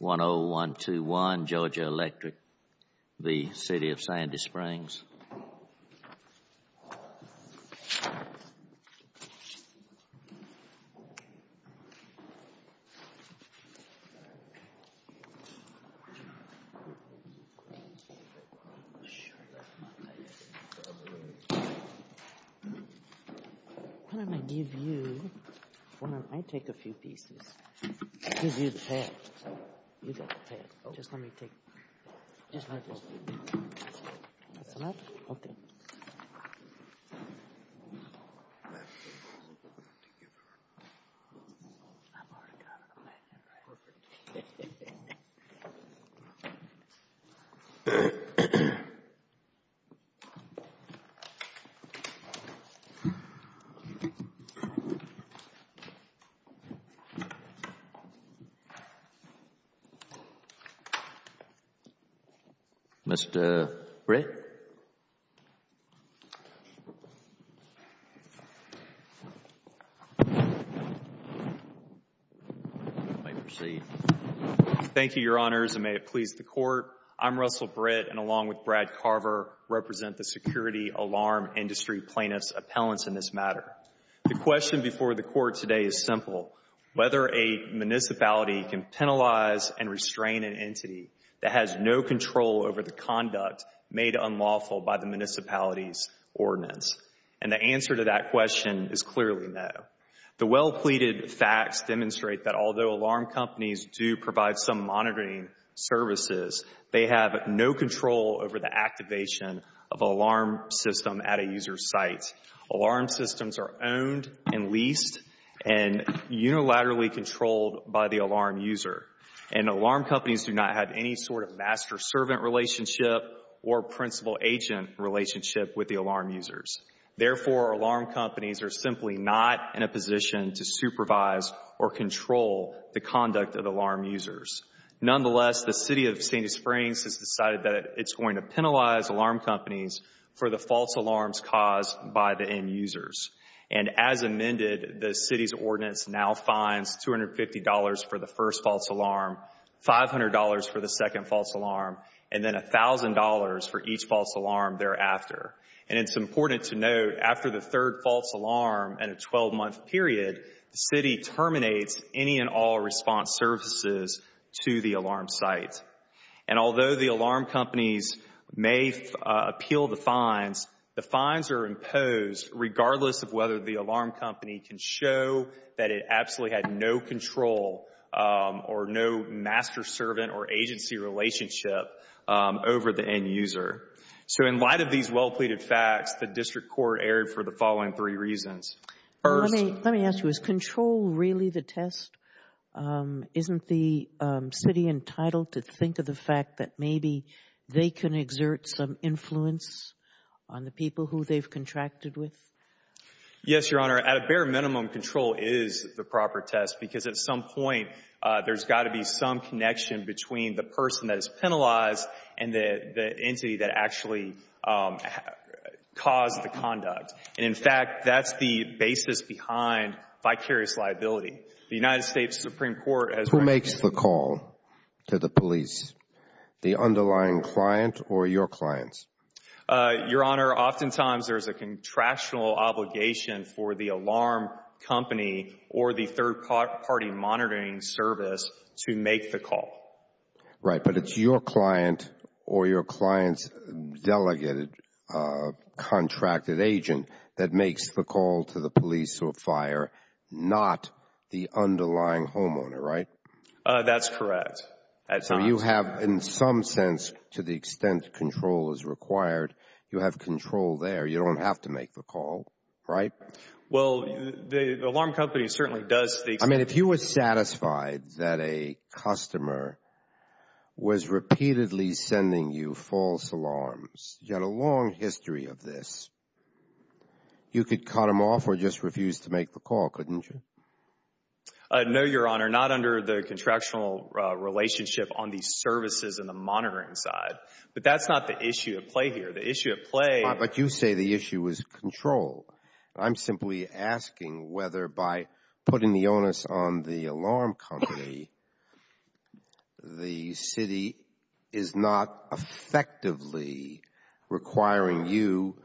10121 Georgia Electric, The City of Sandy Springs v. The City of Sandy Springs, Georgia Mr. Britt. Thank you, Your Honors, and may it please the Court. I'm Russell Britt, and along with Brad Carver, represent the Security Alarm Industry Plaintiffs Appellants in this matter. The question before the Court today is simple, whether a municipality can penalize and restrain an entity that has no control over the conduct made unlawful by the municipality's ordinance. And the answer to that question is clearly no. The well-pleaded facts demonstrate that although alarm companies do provide some monitoring services, they have no control over the activation of an alarm system at a user's site. Alarm systems are owned and leased and unilaterally controlled by the alarm user. And alarm companies do not have any sort of master-servant relationship or principal-agent relationship with the alarm users. Therefore, alarm companies are simply not in a position to supervise or control the conduct of alarm users. Nonetheless, the for the false alarms caused by the end-users. And as amended, the City's ordinance now fines $250 for the first false alarm, $500 for the second false alarm, and then $1,000 for each false alarm thereafter. And it's important to note, after the third false alarm and a 12-month period, the City terminates any and all response services to the alarm site. And appeal the fines. The fines are imposed regardless of whether the alarm company can show that it absolutely had no control or no master-servant or agency relationship over the end-user. So in light of these well-pleaded facts, the District Court erred for the following three reasons. First... Let me ask you, is control really the test? Isn't the City entitled to think of the fact that maybe they can exert some influence on the people who they've contracted with? Yes, Your Honor. At a bare minimum, control is the proper test because at some point, there's got to be some connection between the person that is penalized and the entity that actually caused the conduct. And in fact, that's the basis behind vicarious liability. The United States Supreme Court has... Who makes the call to the police? The underlying client or your clients? Your Honor, oftentimes there's a contractual obligation for the alarm company or the third party monitoring service to make the call. Right, but it's your client or your client's delegated, contracted agent that makes the call? That's correct. So you have, in some sense, to the extent control is required, you have control there. You don't have to make the call, right? Well, the alarm company certainly does... I mean, if you were satisfied that a customer was repeatedly sending you false alarms, you had a long history of this, you could cut them off or just refuse to make the call, couldn't you? No, Your Honor, not under the contractual relationship on the services and the monitoring side. But that's not the issue at play here. The issue at play... But you say the issue is control. I'm simply asking whether by putting the onus on the alarm company, the city is not effectively requiring you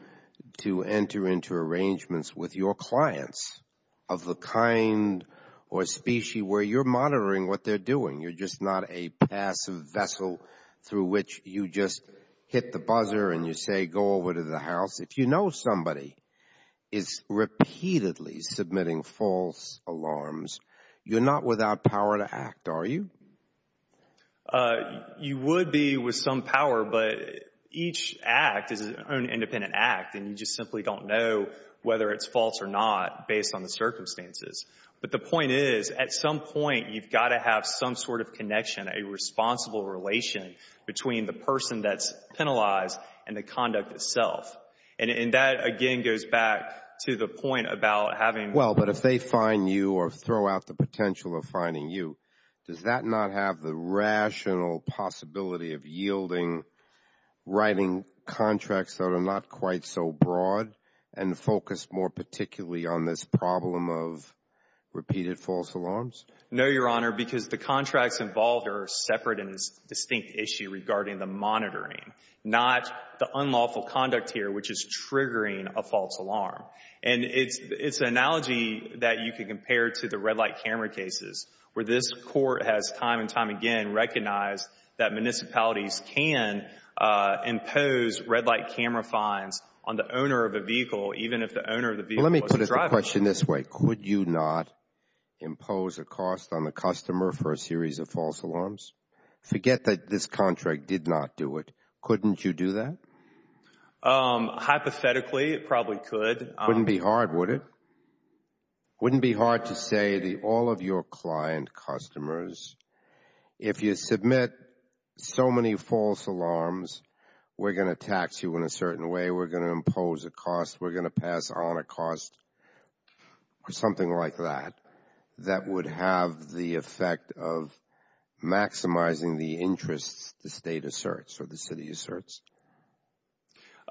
to enter into arrangements with your clients of the kind or species where you're monitoring what they're doing. You're just not a passive vessel through which you just hit the buzzer and you say, go over to the house. If you know somebody is repeatedly submitting false alarms, you're not without power to act, are you? You would be with some power, but each act is an independent act and you just simply don't know whether it's false or not based on the circumstances. But the point is, at some point you've got to have some sort of connection, a responsible relation between the person that's penalized and the conduct itself. And that again goes back to the point about having... Well, but if they find you or throw out the potential of finding you, does that not have the rational possibility of yielding, writing contracts that are not quite so broad? And focus more particularly on this problem of repeated false alarms? No, Your Honor, because the contracts involved are separate and distinct issue regarding the monitoring, not the unlawful conduct here, which is triggering a false alarm. And it's an analogy that you can compare to the red light camera cases, where this court has time and time again recognized that municipalities can impose red light camera fines on the owner of a vehicle, even if the owner of the vehicle wasn't driving. Let me put the question this way. Could you not impose a cost on the customer for a series of false alarms? Forget that this contract did not do it. Couldn't you do that? Hypothetically, it probably could. Wouldn't be hard, would it? Wouldn't be hard to say that all of your client customers, if you submit so many false alarms, we're going to tax you in a certain way, we're going to impose a cost, we're going to pass on a cost, or something like that, that would have the effect of maximizing the interests the State asserts or the City asserts?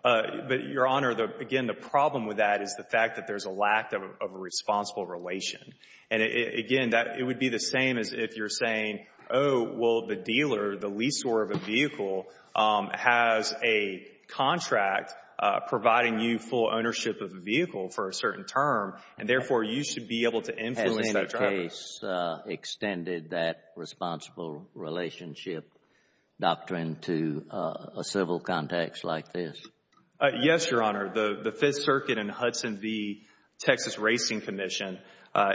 But, Your Honor, again, the problem with that is the fact that there's a lack of a responsible relation. And again, it would be the same as if you're saying, oh, well, the dealer, the leaseholder of a vehicle has a contract providing you full ownership of the vehicle for a certain term, and therefore, you should be able to influence that driver. Has any case extended that responsible relationship doctrine to a civil context like this? Yes, Your Honor. The Fifth Circuit and Hudson V. Texas Racing Commission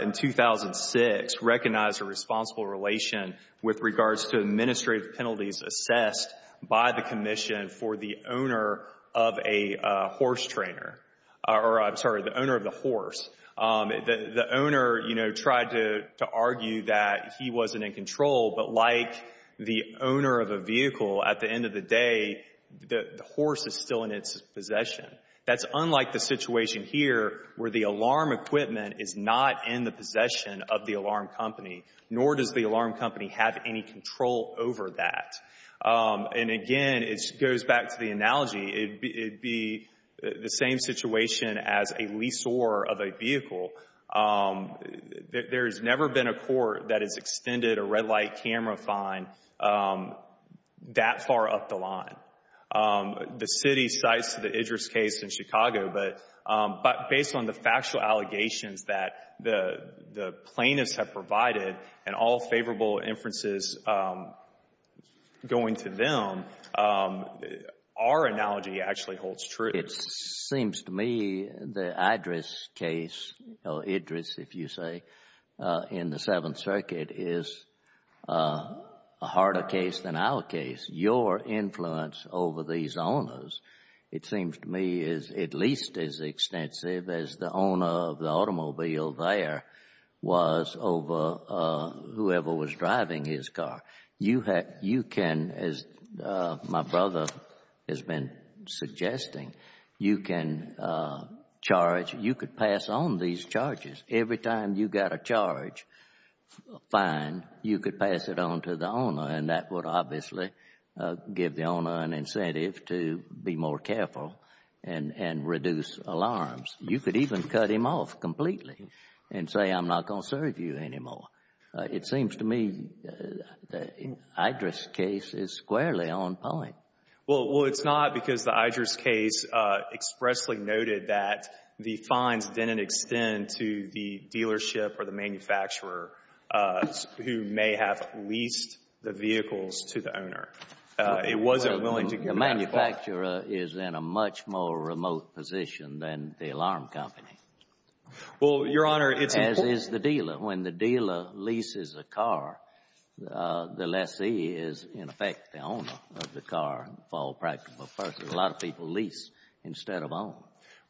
in 2006 recognized a responsible relation with regards to administrative penalties assessed by the Commission for the owner of a horse trainer, or, I'm sorry, the owner of the horse. The owner, you know, tried to argue that he wasn't in control, but like the owner of a vehicle, at the end of the day, the horse is still in its possession. That's unlike the situation here where the owner is the alarm company, nor does the alarm company have any control over that. And again, it goes back to the analogy. It would be the same situation as a leaseholder of a vehicle. There has never been a court that has extended a red light camera fine that far up the line. The City cites the Idris case in Chicago, but based on the factual allegations that the plaintiffs have provided and all favorable inferences going to them, our analogy actually holds true. It seems to me the Idris case, or Idris, if you say, in the Seventh Circuit is a harder case than our case. Your influence over these owners, it seems to me, is at least as extensive as the owner of the automobile there was over whoever was driving his car. You can, as my brother has been suggesting, you can charge, you could pass on these charges. Every time you got a charge fine, you could pass it on to the owner, and that would obviously give the owner an incentive to be more careful and reduce alarms. You could even cut him off completely and say, I'm not going to serve you anymore. It seems to me the Idris case is squarely on point. Well, it's not because the Idris case expressly noted that the fines didn't extend to the owner. It wasn't willing to give him that charge. The manufacturer is in a much more remote position than the alarm company. Well, Your Honor, it's important. As is the dealer. When the dealer leases a car, the lessee is, in effect, the owner of the car for all practical purposes. A lot of people lease instead of own.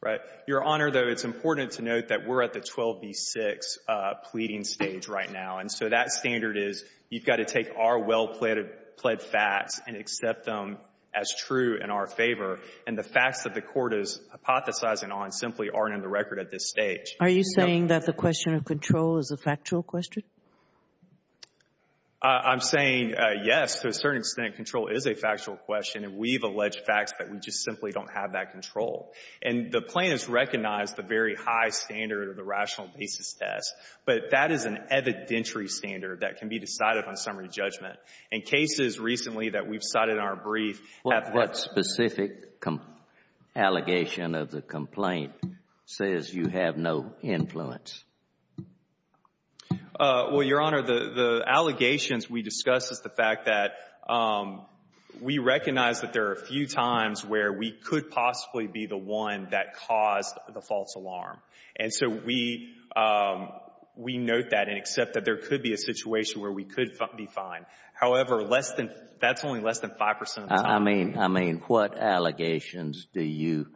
Right. Your Honor, though, it's important to note that we're at the 12B6 pleading stage right now, and so that standard is you've got to take our well-pled facts and accept them as true in our favor, and the facts that the court is hypothesizing on simply aren't in the record at this stage. Are you saying that the question of control is a factual question? I'm saying, yes, to a certain extent, control is a factual question, and we've alleged facts that we just simply don't have that control. And the plaintiff's recognized the very high standard of the rational basis test, but that is an evidentiary standard that can be decided on summary judgment. And cases recently that we've cited in our brief have had— What specific allegation of the complaint says you have no influence? Well, Your Honor, the allegations we discuss is the fact that we recognize that there are a few times where we could possibly be the one that caused the false alarm. And so we note that and accept that there could be a situation where we could be fined. However, that's only less than 5 percent of the time. I mean, what allegations do you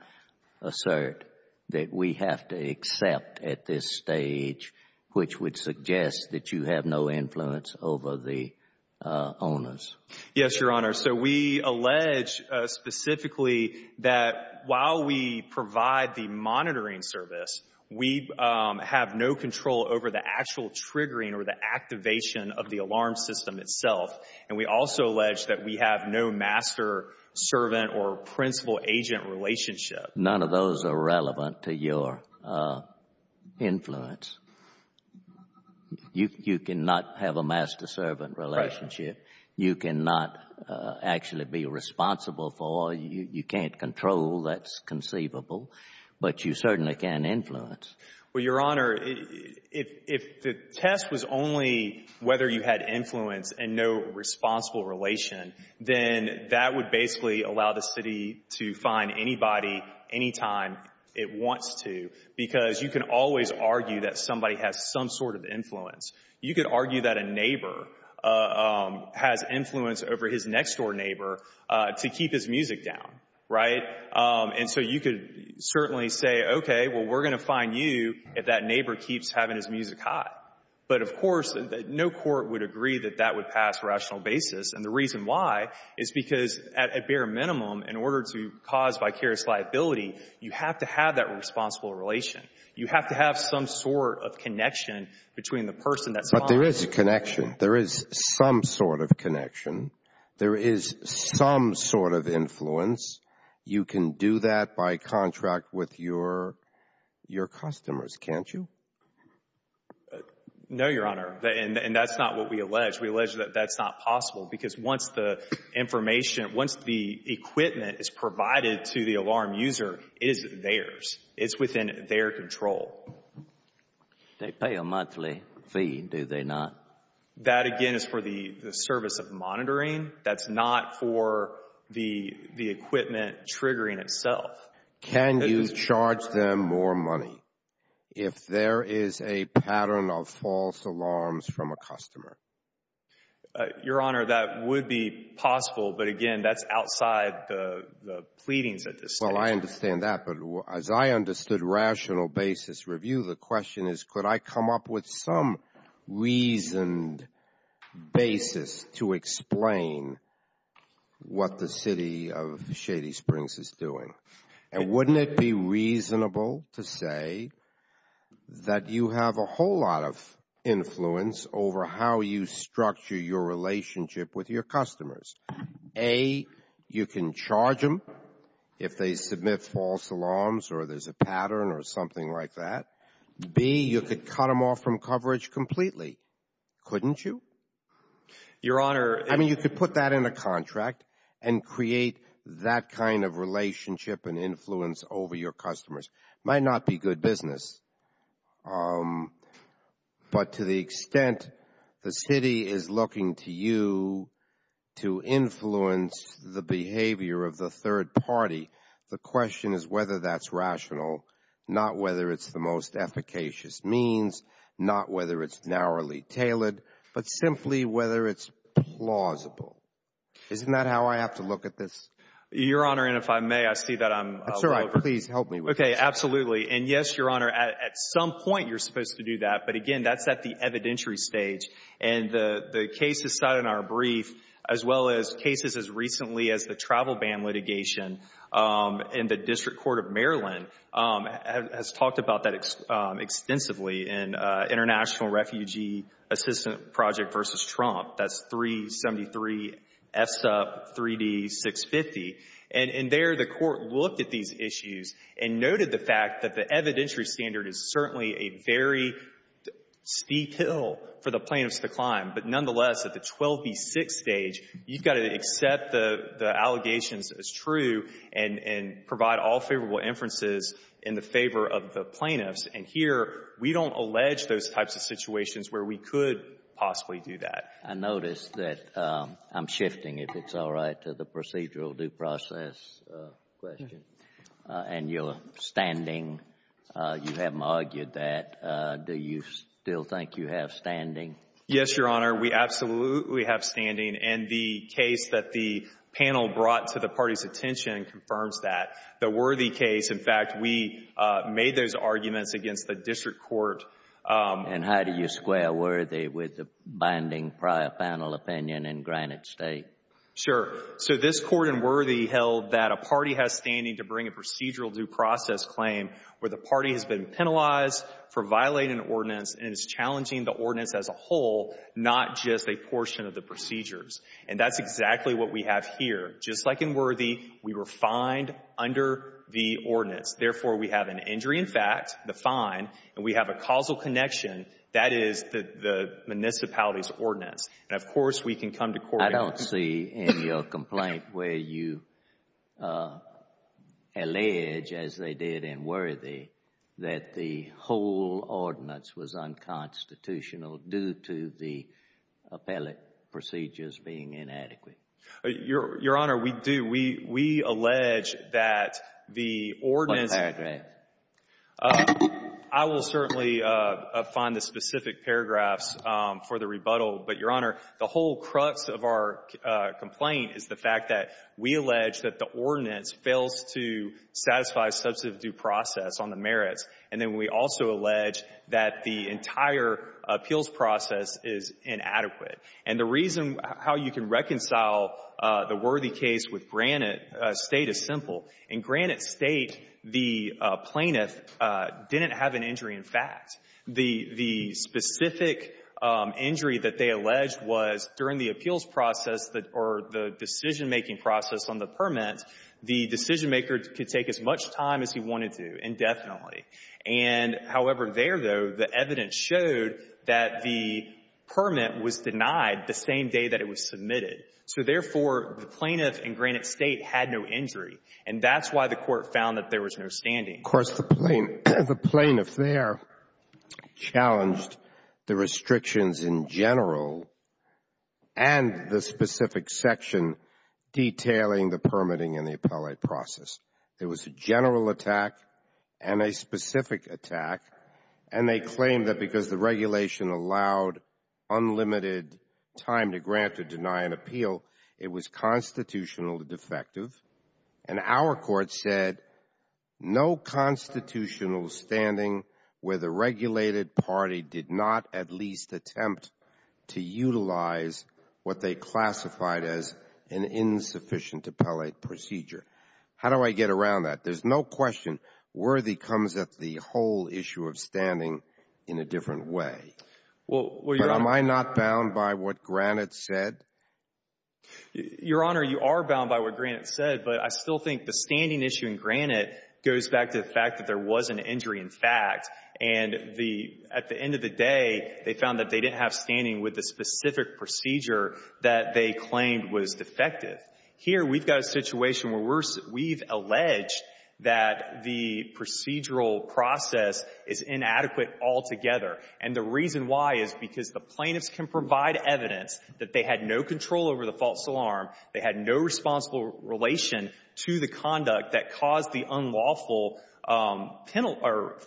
assert that we have to accept at this stage which would Yes, Your Honor. So we allege specifically that while we provide the monitoring service, we have no control over the actual triggering or the activation of the alarm system itself. And we also allege that we have no master-servant or principal-agent relationship. None of those are relevant to your influence. You cannot have a master-servant relationship. You cannot actually be responsible for. You can't control. That's conceivable. But you certainly can influence. Well, Your Honor, if the test was only whether you had influence and no responsible relation, then that would basically allow the city to fine anybody anytime it wants to, because you can always argue that somebody has some sort of influence. You could argue that a neighbor has influence over his next-door neighbor to keep his music down, right? And so you could certainly say, okay, well, we're going to fine you if that neighbor keeps having his music high. But, of course, no court would agree that that would pass rational basis. And the reason why is because at bare minimum, in order to cause vicarious liability, you have to have that responsible relation. You have to have some sort of connection between the person that's fined. But there is connection. There is some sort of connection. There is some sort of influence. You can do that by contract with your customers, can't you? No, Your Honor. And that's not what we allege. We allege that that's not possible, because once the information, once the equipment is provided to the alarm user, it is theirs. It's within their control. They pay a monthly fee, do they not? That again is for the service of monitoring. That's not for the equipment triggering itself. Can you charge them more money if there is a pattern of false alarms from a customer? Your Honor, that would be possible, but again, that's outside the pleadings at this time. Well, I understand that. But as I understood rational basis review, the question is, could I come up with some reasoned basis to explain what the City of Shady Springs is doing? And wouldn't it be reasonable to say that you have a whole lot of influence over how you structure your relationship with your customers? A, you can charge them if they submit false alarms or there's a pattern or something like that. B, you could cut them off from coverage completely, couldn't you? Your Honor, I mean, you could put that in a contract and create that kind of relationship and influence over your customers. Might not be good business, but to the extent the City is looking to you to influence the behavior of the third party, the question is whether that's rational, not whether it's the most efficacious means, not whether it's narrowly tailored, but simply whether it's plausible. Isn't that how I have to look at this? Your Honor, and if I may, I see that I'm over. Please help me with this. Okay, absolutely. And yes, Your Honor, at some point you're supposed to do that, but again, that's at the evidentiary stage. And the cases cited in our brief, as well as cases as recently as the travel ban litigation in the District Court of Maryland, has talked about that extensively in International Refugee Assistant Project v. Trump, that's 373 FSUP 3D650. And there the Court looked at these issues and noted the fact that the evidentiary standard is certainly a very steep hill for the plaintiffs to climb. But nonetheless, at the 12B6 stage, you've got to accept the allegations as true and provide all favorable inferences in the favor of the plaintiffs. And here, we don't allege those types of situations where we could possibly do that. I notice that I'm shifting, if it's all right, to the procedural due process question. And your standing, you haven't argued that. Do you still think you have standing? Yes, Your Honor, we absolutely have standing. And the case that the panel brought to the party's attention confirms that. The Worthy case, in fact, we made those arguments against the District Court. And how do you square Worthy with the binding prior panel opinion in Granite State? Sure. So this Court in Worthy held that a party has standing to bring a procedural due process claim where the party has been penalized for violating an ordinance and is challenging the ordinance as a whole, not just a portion of the procedures. And that's exactly what we have here. Therefore, we have an injury in fact, the fine, and we have a causal connection. That is the municipality's ordinance. And, of course, we can come to court. I don't see in your complaint where you allege, as they did in Worthy, that the whole ordinance was unconstitutional due to the appellate procedures being inadequate. Your Honor, we do. We allege that the ordinance. What paragraph? I will certainly find the specific paragraphs for the rebuttal. But, Your Honor, the whole crux of our complaint is the fact that we allege that the ordinance fails to satisfy substantive due process on the merits. And then we also allege that the entire appeals process is inadequate. And the reason how you can reconcile the Worthy case with Granite State is simple. In Granite State, the plaintiff didn't have an injury in fact. The specific injury that they alleged was during the appeals process or the decision making process on the permit, the decision maker could take as much time as he wanted to indefinitely. And, however, there, though, the evidence showed that the permit was denied the same day that it was submitted. So, therefore, the plaintiff in Granite State had no injury. And that's why the Court found that there was no standing. Of course, the plaintiff there challenged the restrictions in general and the specific section detailing the permitting and the appellate process. There was a general attack and a specific attack. And they claimed that because the regulation allowed unlimited time to grant or deny an appeal, it was constitutionally defective. And our Court said no constitutional standing where the regulated party did not at least attempt to utilize what they classified as an insufficient appellate procedure. How do I get around that? There's no question Worthy comes at the whole issue of standing in a different way. But am I not bound by what Granite said? Your Honor, you are bound by what Granite said, but I still think the standing issue in Granite goes back to the fact that there was an injury in fact. And at the end of the day, they found that they didn't have standing with the specific procedure that they claimed was defective. Here we've got a situation where we've alleged that the procedural process is inadequate altogether. And the reason why is because the plaintiffs can provide evidence that they had no control over the false alarm, they had no responsible relation to the conduct that caused the unlawful penalty or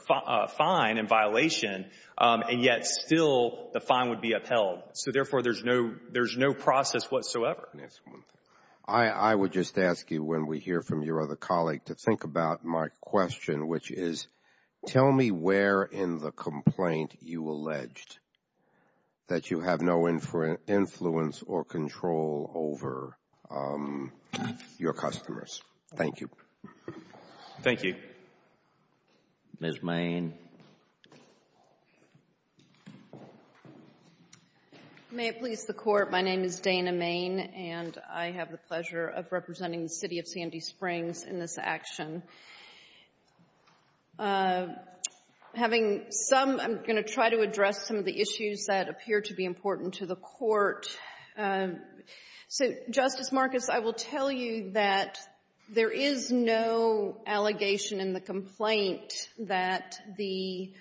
fine and violation, and yet still the fine would be upheld. So therefore, there's no process whatsoever. I would just ask you when we hear from your other colleague to think about my question, which is, tell me where in the complaint you alleged that you have no influence or control over your customers. Thank you. Thank you. Ms. Main. May it please the Court. My name is Dana Main, and I have the pleasure of representing the City of Sandy Springs in this action. Having some, I'm going to try to address some of the issues that appear to be important to the Court. So, Justice Marcus, I will tell you that there is no allegation in the complaint that the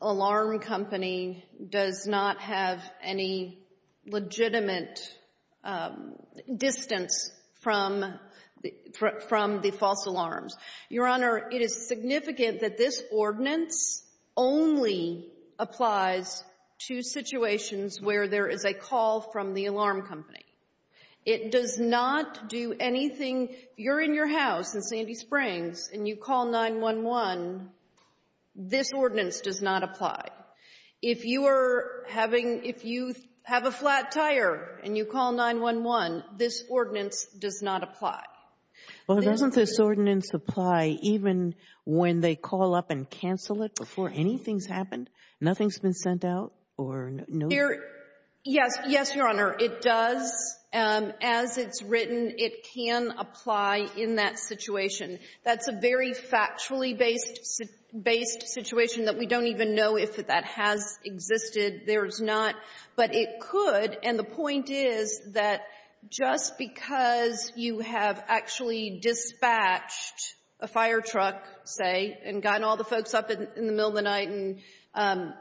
alarm company does not have any legitimate distance from the false alarms. Your Honor, it is significant that this ordinance only applies to situations where there is a call from the alarm company. It does not do anything, if you're in your house in Sandy Springs and you call 9-1-1, this ordinance does not apply. If you are having, if you have a flat tire and you call 9-1-1, this ordinance does not apply. Well, doesn't this ordinance apply even when they call up and cancel it before anything has happened? Nothing has been sent out? Or no? Yes. Yes, Your Honor. It does. As it's written, it can apply in that situation. That's a very factually-based situation that we don't even know if that has existed. There's not. But it could. And the point is that just because you have actually dispatched a fire truck, say, and got all the folks up in the middle of the night and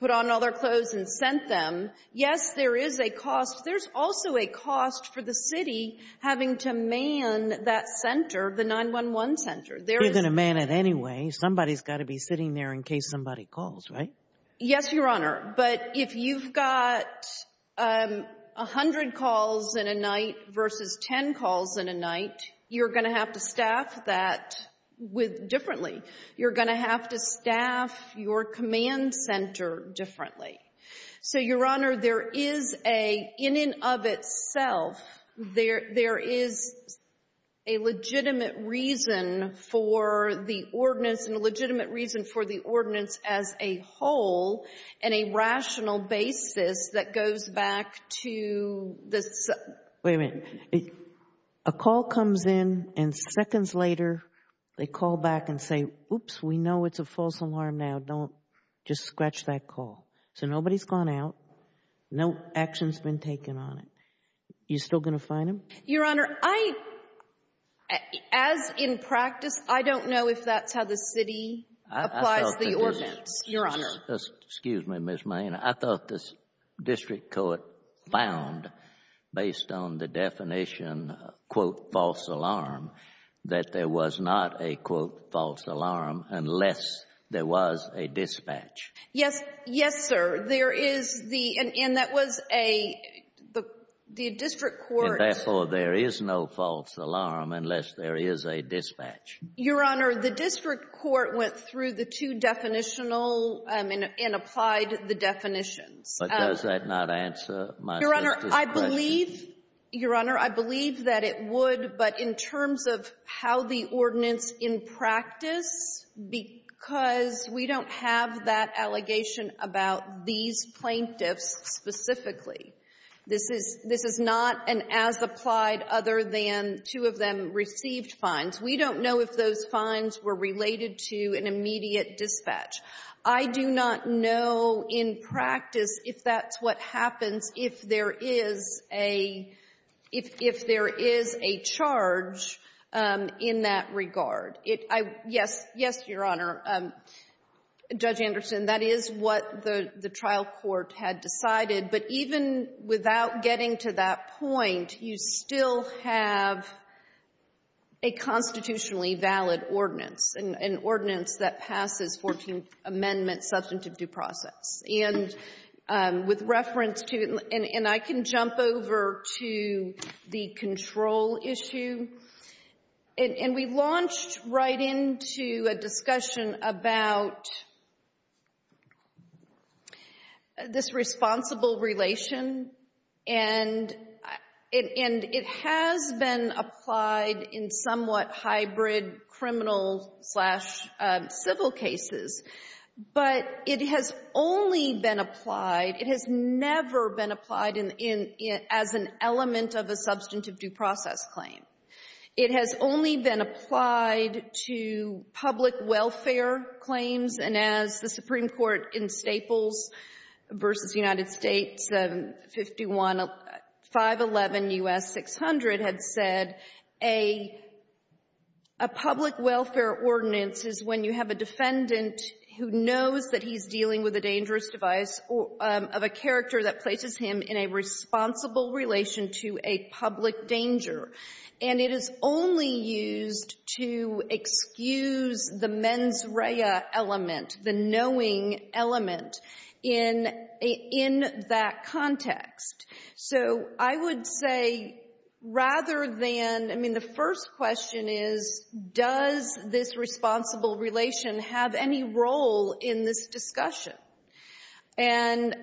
put on all their clothes and sent them, yes, there is a cost. There's also a cost for the city having to man that center, the 9-1-1 center. There is no way. They're going to man it anyway. Somebody's got to be sitting there in case somebody calls, right? Yes, Your Honor. But if you've got 100 calls in a night versus 10 calls in a night, you're going to have to staff that differently. You're going to have to staff your command center differently. So, Your Honor, there is a, in and of itself, there is a legitimate reason for the ordinance and a legitimate reason for the ordinance as a whole and a rational basis that goes Wait a minute. A call comes in and seconds later, they call back and say, Oops, we know it's a false alarm now. Don't just scratch that call. So nobody's gone out. No action's been taken on it. You still going to fine them? Your Honor, I, as in practice, I don't know if that's how the city applies the ordinance, Your Honor. Excuse me, Ms. Main. I thought the district court found, based on the definition, quote, false alarm, that there was not a, quote, false alarm unless there was a dispatch. Yes. Yes, sir. There is the, and that was a, the district court Your Honor, the district court went through the two definitional and applied the definitions. But does that not answer my sister's question? Your Honor, I believe, Your Honor, I believe that it would. But in terms of how the ordinance in practice, because we don't have that allegation about these plaintiffs specifically, this is not an as-applied other than two of them received fines. We don't know if those fines were related to an immediate dispatch. I do not know in practice if that's what happens if there is a, if there is a charge in that regard. It, I, yes, yes, Your Honor, Judge Anderson, that is what the trial court had decided. But even without getting to that point, you still have a constitutionally valid ordinance, an ordinance that passes 14th Amendment substantive due process. And with reference to, and I can jump over to the control issue. And we launched right into a discussion about this responsible relation. And it has been applied in somewhat hybrid criminal slash civil cases. But it has only been applied, it has never been applied as an element of a substantive due process claim. It has only been applied to public welfare claims. And as the Supreme Court in Staples v. United States 511 U.S. 600 had said, a public welfare ordinance is when you have a defendant who knows that he's dealing with a dangerous device of a character that places him in a responsible relation to a public danger. And it is only used to excuse the mens rea element, the knowing element, in, in that context. So I would say rather than, I mean, the first question is, does this responsible relation have any role in this discussion? And,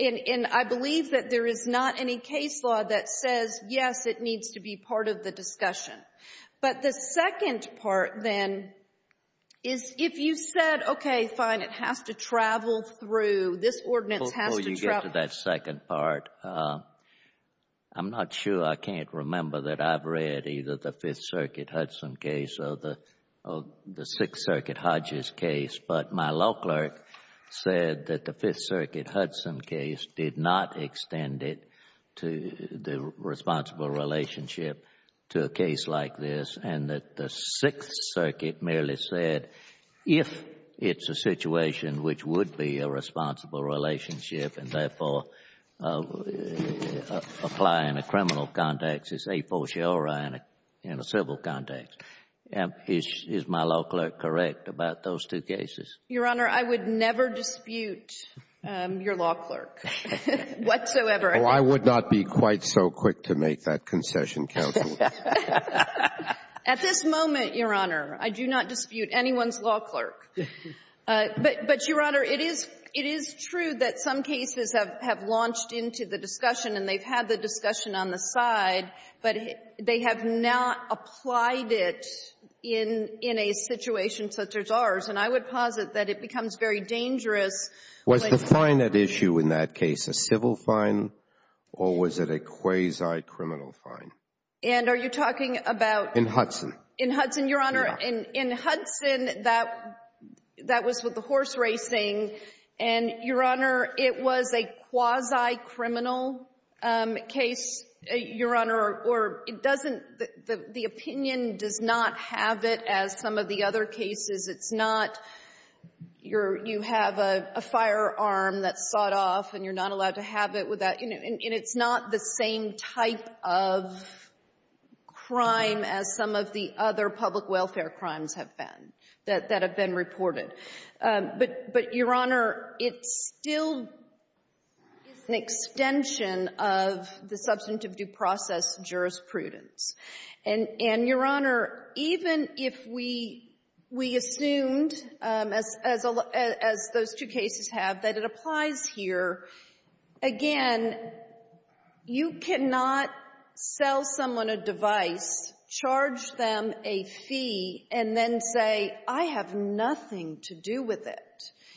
and, and I believe that there is not any case law that says, yes, it needs to be part of the discussion. But the second part, then, is if you said, okay, fine, it has to travel through, this ordinance has to travel. Before you get to that second part, I'm not sure, I can't remember that I've read either the Fifth Circuit Hudson case or the Sixth Circuit Hodges case. But my law clerk said that the Fifth Circuit Hudson case did not extend it to the responsible relationship to a case like this. And that the Sixth Circuit merely said, if it's a situation which would be a responsible relationship and, therefore, apply in a criminal context, it's a for sure in a civil context. Is, is my law clerk correct about those two cases? Your Honor, I would never dispute your law clerk whatsoever. Oh, I would not be quite so quick to make that concession, counsel. At this moment, Your Honor, I do not dispute anyone's law clerk. But, but, Your Honor, it is, it is true that some cases have, have launched into the in, in a situation such as ours. And I would posit that it becomes very dangerous. Was the fine at issue in that case a civil fine or was it a quasi-criminal fine? And are you talking about? In Hudson. In Hudson, Your Honor. In, in Hudson, that, that was with the horse racing. And, Your Honor, it was a quasi-criminal case, Your Honor. Or, or, it doesn't, the, the opinion does not have it as some of the other cases. It's not, you're, you have a, a firearm that's sawed off and you're not allowed to have it without, you know, and, and it's not the same type of crime as some of the other public welfare crimes have been, that, that have been reported. But, but, Your Honor, it's still an extension of the substantive due process jurisprudence. And, and, Your Honor, even if we, we assumed, as, as, as those two cases have, that it applies here, again, you cannot sell someone a device, charge them a fee, and then say, I have nothing to do with it.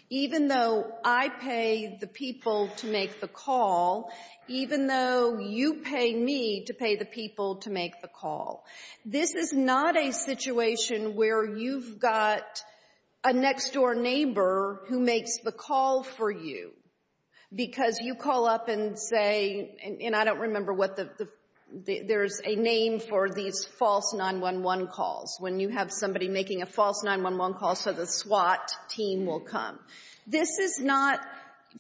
Even though I pay the people to make the call, even though you pay me to pay the people to make the call. This is not a situation where you've got a next door neighbor who makes the call for you. Because you call up and say, and, and I don't remember what the, the, the, there's a name for these false 911 calls, when you have somebody making a false 911 call so the SWAT team will come. This is not,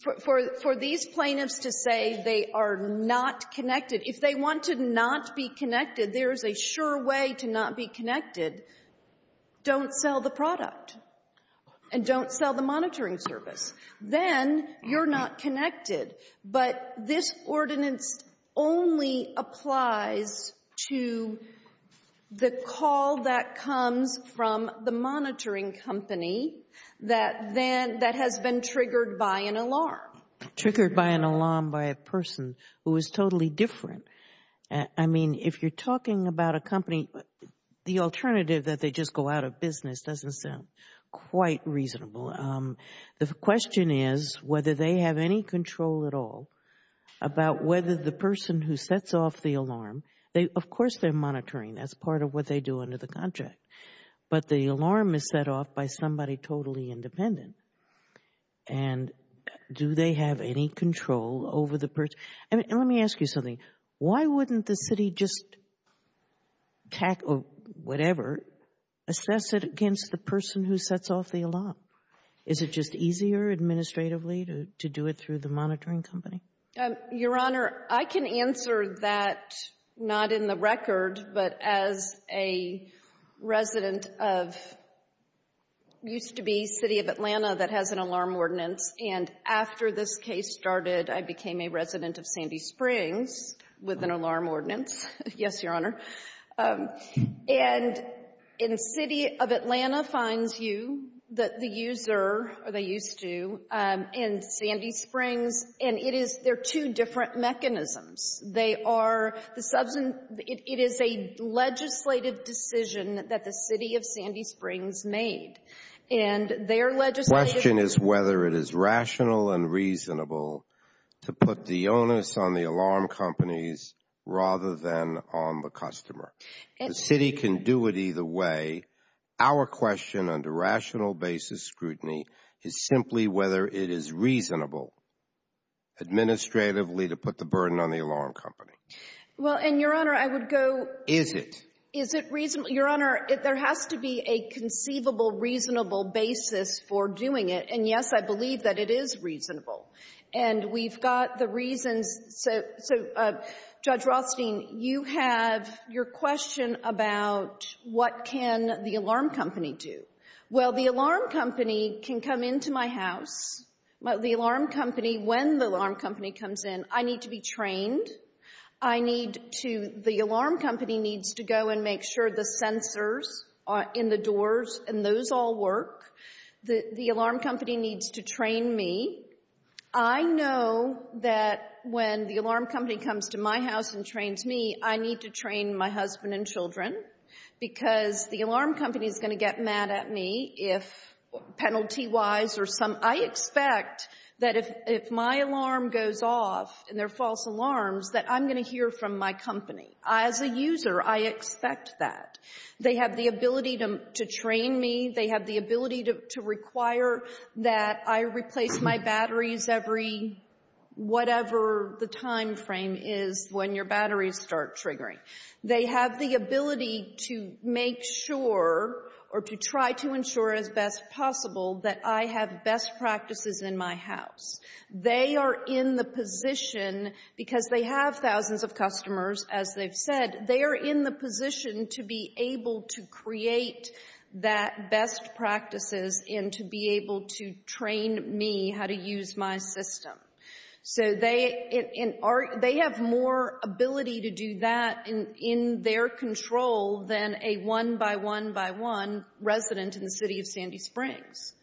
for, for, for these plaintiffs to say they are not connected, if they want to not be connected, there is a sure way to not be connected, don't sell the product and don't sell the monitoring service. Then you're not connected. But this ordinance only applies to the call that comes from the monitoring company that, then, that has been triggered by an alarm. Triggered by an alarm by a person who is totally different. I mean, if you're talking about a company, the alternative that they just go out of business doesn't sound quite reasonable. The question is whether they have any control at all about whether the person who sets off the alarm, they, of course they're monitoring, that's part of what they do under the contract. But the alarm is set off by somebody totally independent. And do they have any control over the person, and let me ask you something, why wouldn't the city just tackle, whatever, assess it against the person who sets off the alarm? Is it just easier administratively to do it through the monitoring company? Your Honor, I can answer that not in the record, but as a resident of, used to be City of Atlanta that has an alarm ordinance, and after this case started, I became a resident of Sandy Springs with an alarm ordinance, yes, Your Honor. And in City of Atlanta finds you, the user, or they used to, in Sandy Springs, and it is, they're two different mechanisms. They are, the substance, it is a legislative decision that the City of Sandy Springs made. And their legislative— The question is whether it is rational and reasonable to put the onus on the alarm companies rather than on the customer. The city can do it either way. Our question under rational basis scrutiny is simply whether it is reasonable administratively to put the burden on the alarm company. Well, and Your Honor, I would go— Is it? Is it reasonable? Your Honor, there has to be a conceivable, reasonable basis for doing it. And yes, I believe that it is reasonable. And we've got the reasons, so Judge Rothstein, you have your question about what can the alarm company do. Well, the alarm company can come into my house, but the alarm company, when the alarm company comes in, I need to be trained. I need to, the alarm company needs to go and make sure the sensors in the doors and those all work. The alarm company needs to train me. I know that when the alarm company comes to my house and trains me, I need to train my husband and children because the alarm company is going to get mad at me if penalty-wise or some— I expect that if my alarm goes off and they're false alarms, that I'm going to hear from my company. As a user, I expect that. They have the ability to train me. They have the ability to require that I replace my batteries every whatever the timeframe is when your batteries start triggering. They have the ability to make sure or to try to ensure as best possible that I have best practices in my house. They are in the position, because they have thousands of customers, as they've said, they are in the position to be able to create that best practices and to be able to train me how to use my system. So, they have more ability to do that in their control than a one-by-one-by-one resident in the city of Sandy Springs.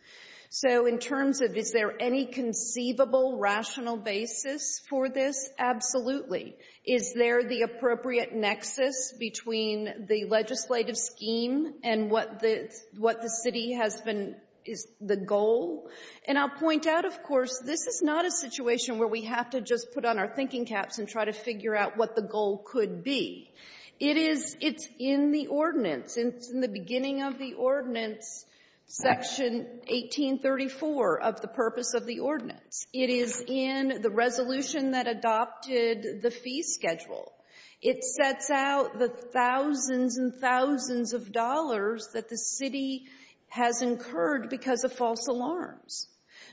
So, in terms of is there any conceivable, rational basis for this? Absolutely. Is there the appropriate nexus between the legislative scheme and what the city has been — is the goal? And I'll point out, of course, this is not a situation where we have to just put on our thinking caps and try to figure out what the goal could be. It is — it's in the ordinance. It's in the beginning of the ordinance, Section 1834, of the purpose of the ordinance. It is in the resolution that adopted the fee schedule. It sets out the thousands and thousands of dollars that the city has incurred because of false alarms.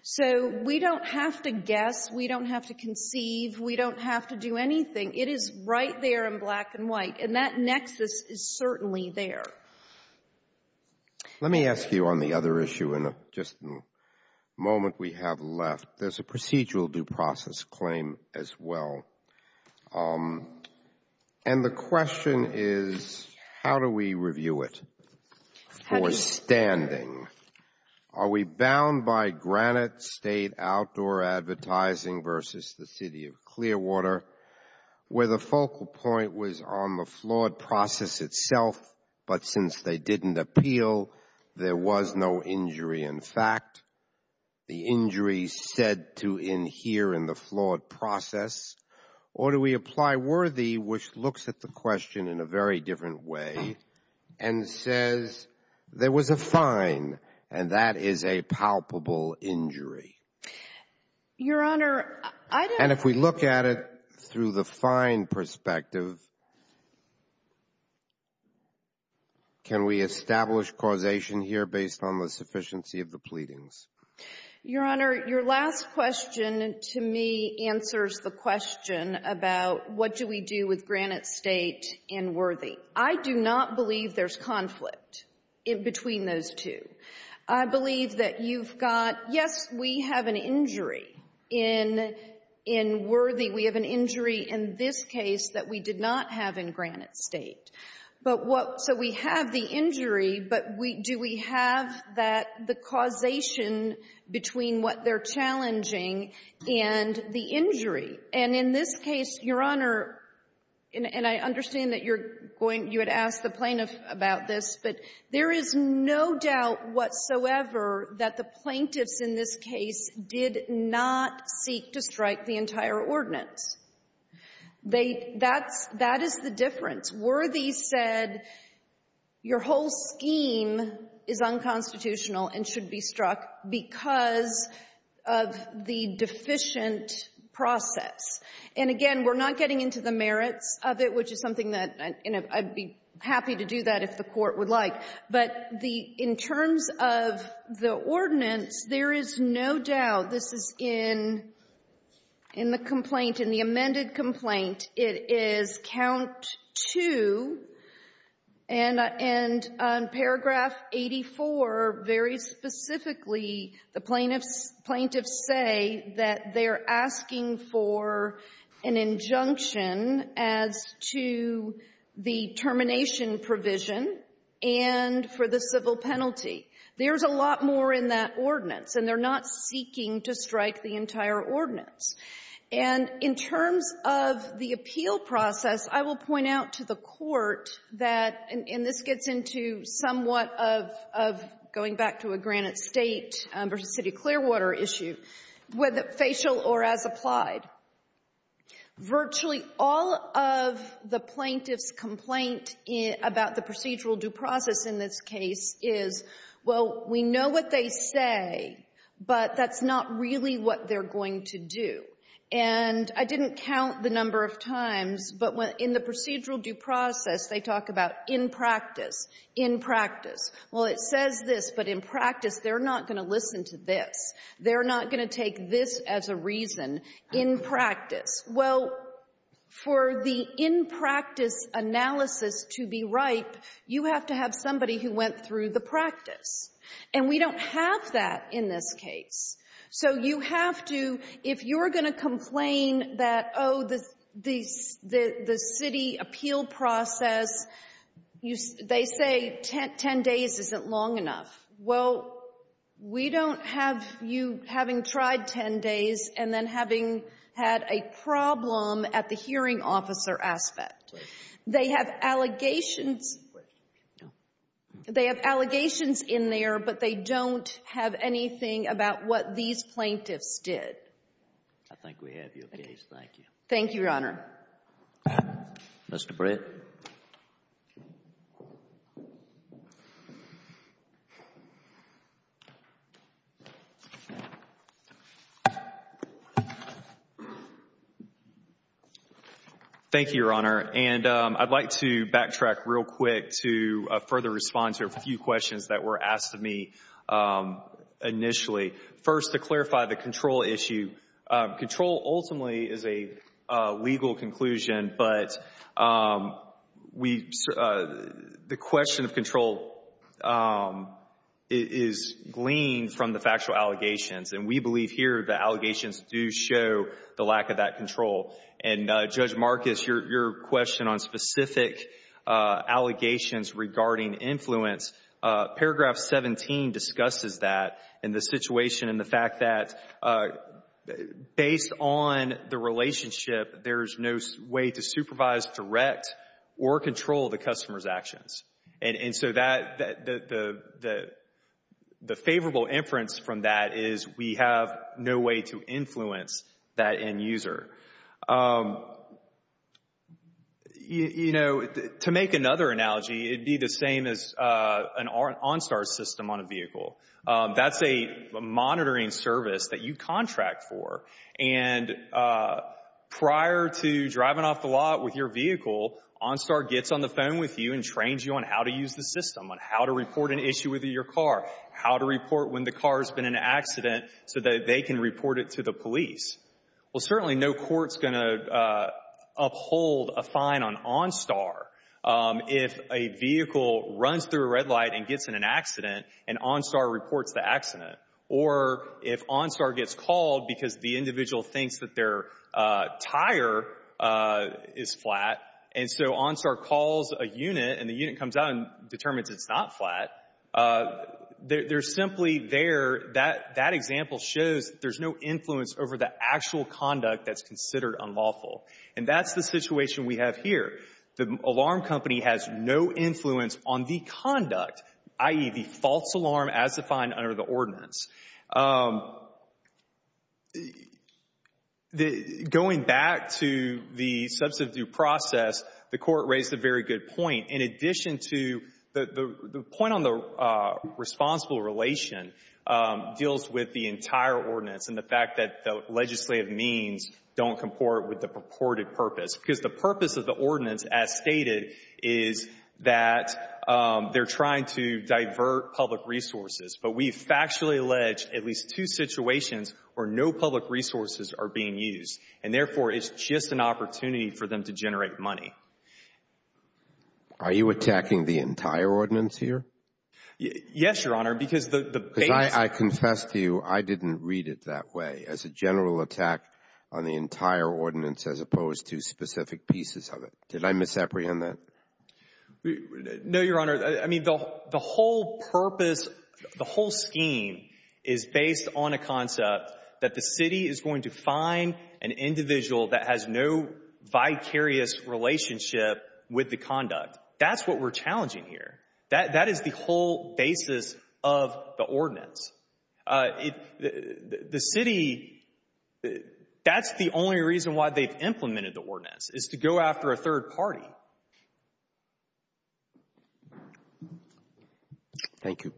So, we don't have to guess. We don't have to conceive. We don't have to do anything. It is right there in black and white. And that nexus is certainly there. Let me ask you on the other issue in just the moment we have left. There's a procedural due process claim as well. And the question is, how do we review it for standing? Are we bound by granite state outdoor advertising versus the city of Clearwater, where the focal point was on the flawed process itself, but since they didn't appeal, there was no injury in fact, the injury said to adhere in the flawed process? Or do we apply worthy, which looks at the question in a very different way, and says there was a fine, and that is a palpable injury? Your Honor, I don't — If we look at it through the fine perspective, can we establish causation here based on the sufficiency of the pleadings? Your Honor, your last question to me answers the question about what do we do with granite state and worthy. I do not believe there's conflict between those two. I believe that you've got, yes, we have an injury in worthy. We have an injury in this case that we did not have in granite state. But what — so we have the injury, but do we have that — the causation between what they're challenging and the injury? And in this case, Your Honor, and I understand that you're going — you had asked the plaintiff about this, but there is no doubt whatsoever that the plaintiffs in this case did not seek to strike the entire ordinance. They — that's — that is the difference. Worthy said your whole scheme is unconstitutional and should be struck because of the deficient process. And again, we're not getting into the merits of it, which is something that — and I'd be happy to do that if the Court would like. But the — in terms of the ordinance, there is no doubt this is in — in the complaint, in the amended complaint, it is count 2, and on paragraph 84, very specifically, the plaintiffs — plaintiffs say that they're asking for an injunction as to the termination provision and for the civil penalty. There's a lot more in that ordinance, and they're not seeking to strike the entire ordinance. And in terms of the appeal process, I will point out to the Court that — and this gets into somewhat of going back to a Granite State versus City of Clearwater issue, whether facial or as applied, virtually all of the plaintiff's complaint about the procedural due process in this case is, well, we know what they say, but that's not really what they're going to do. And I didn't count the number of times, but in the procedural due process, they talk about in practice, in practice. Well, it says this, but in practice, they're not going to listen to this. They're not going to take this as a reason in practice. Well, for the in practice analysis to be right, you have to have somebody who went through the practice. And we don't have that in this case. So you have to — if you're going to complain that, oh, the — the City appeal process, you — they say 10 days isn't long enough. Well, we don't have you having tried 10 days and then having had a problem at the hearing officer aspect. They have allegations — they have allegations in there, but they don't have anything about what these plaintiffs did. I think we have your case. Thank you. Thank you, Your Honor. Mr. Brett. Thank you, Your Honor. And I'd like to backtrack real quick to further respond to a few questions that were asked of me initially. First, to clarify the control issue. Control ultimately is a legal conclusion, but we — the question of control is gleaned from the factual allegations. And we believe here the allegations do show the lack of that control. And, Judge Marcus, your question on specific allegations regarding influence, paragraph 17 discusses that and the situation and the fact that, based on the relationship, there's no way to supervise, direct, or control the customer's actions. And so that — the favorable inference from that is we have no way to influence that end user. You know, to make another analogy, it would be the same as an OnStar system on a vehicle. That's a monitoring service that you contract for. And prior to driving off the lot with your vehicle, OnStar gets on the phone with you and trains you on how to use the system, on how to report an issue with your car, how to report when the car has been in an accident so that they can report it to the police. Well, certainly no court's going to uphold a fine on OnStar if a vehicle runs through a red light and gets in an accident and OnStar reports the accident. Or if OnStar gets called because the individual thinks that their tire is flat, and so OnStar calls a unit and the unit comes out and determines it's not flat, they're simply there. That example shows there's no influence over the actual conduct that's considered unlawful. And that's the situation we have here. The alarm company has no influence on the conduct, i.e., the false alarm as defined under the ordinance. Going back to the substantive due process, the Court raised a very good point. In addition to the point on the responsible relation deals with the entire ordinance and the fact that the legislative means don't comport with the purported purpose. Because the purpose of the ordinance, as stated, is that they're trying to divert public resources. But we've factually alleged at least two situations where no public resources are being used. And therefore, it's just an opportunity for them to generate money. Are you attacking the entire ordinance here? Yes, Your Honor. Because the basic – Because I confess to you, I didn't read it that way, as a general attack on the entire ordinance as opposed to specific pieces of it. Did I misapprehend that? No, Your Honor. I mean, the whole purpose, the whole scheme is based on a concept that the city is going to find an individual that has no vicarious relationship with the conduct. That's what we're challenging here. That is the whole basis of the ordinance. The city, that's the only reason why they've implemented the ordinance, is to go after a third party. Thank you.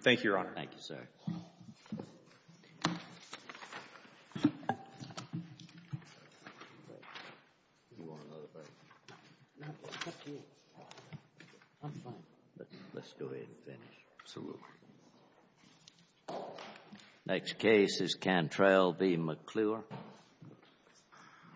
Thank you, Your Honor. Thank you, sir. I'm fine. Let's go ahead and finish. Absolutely. Next case is Cantrell v. McClure.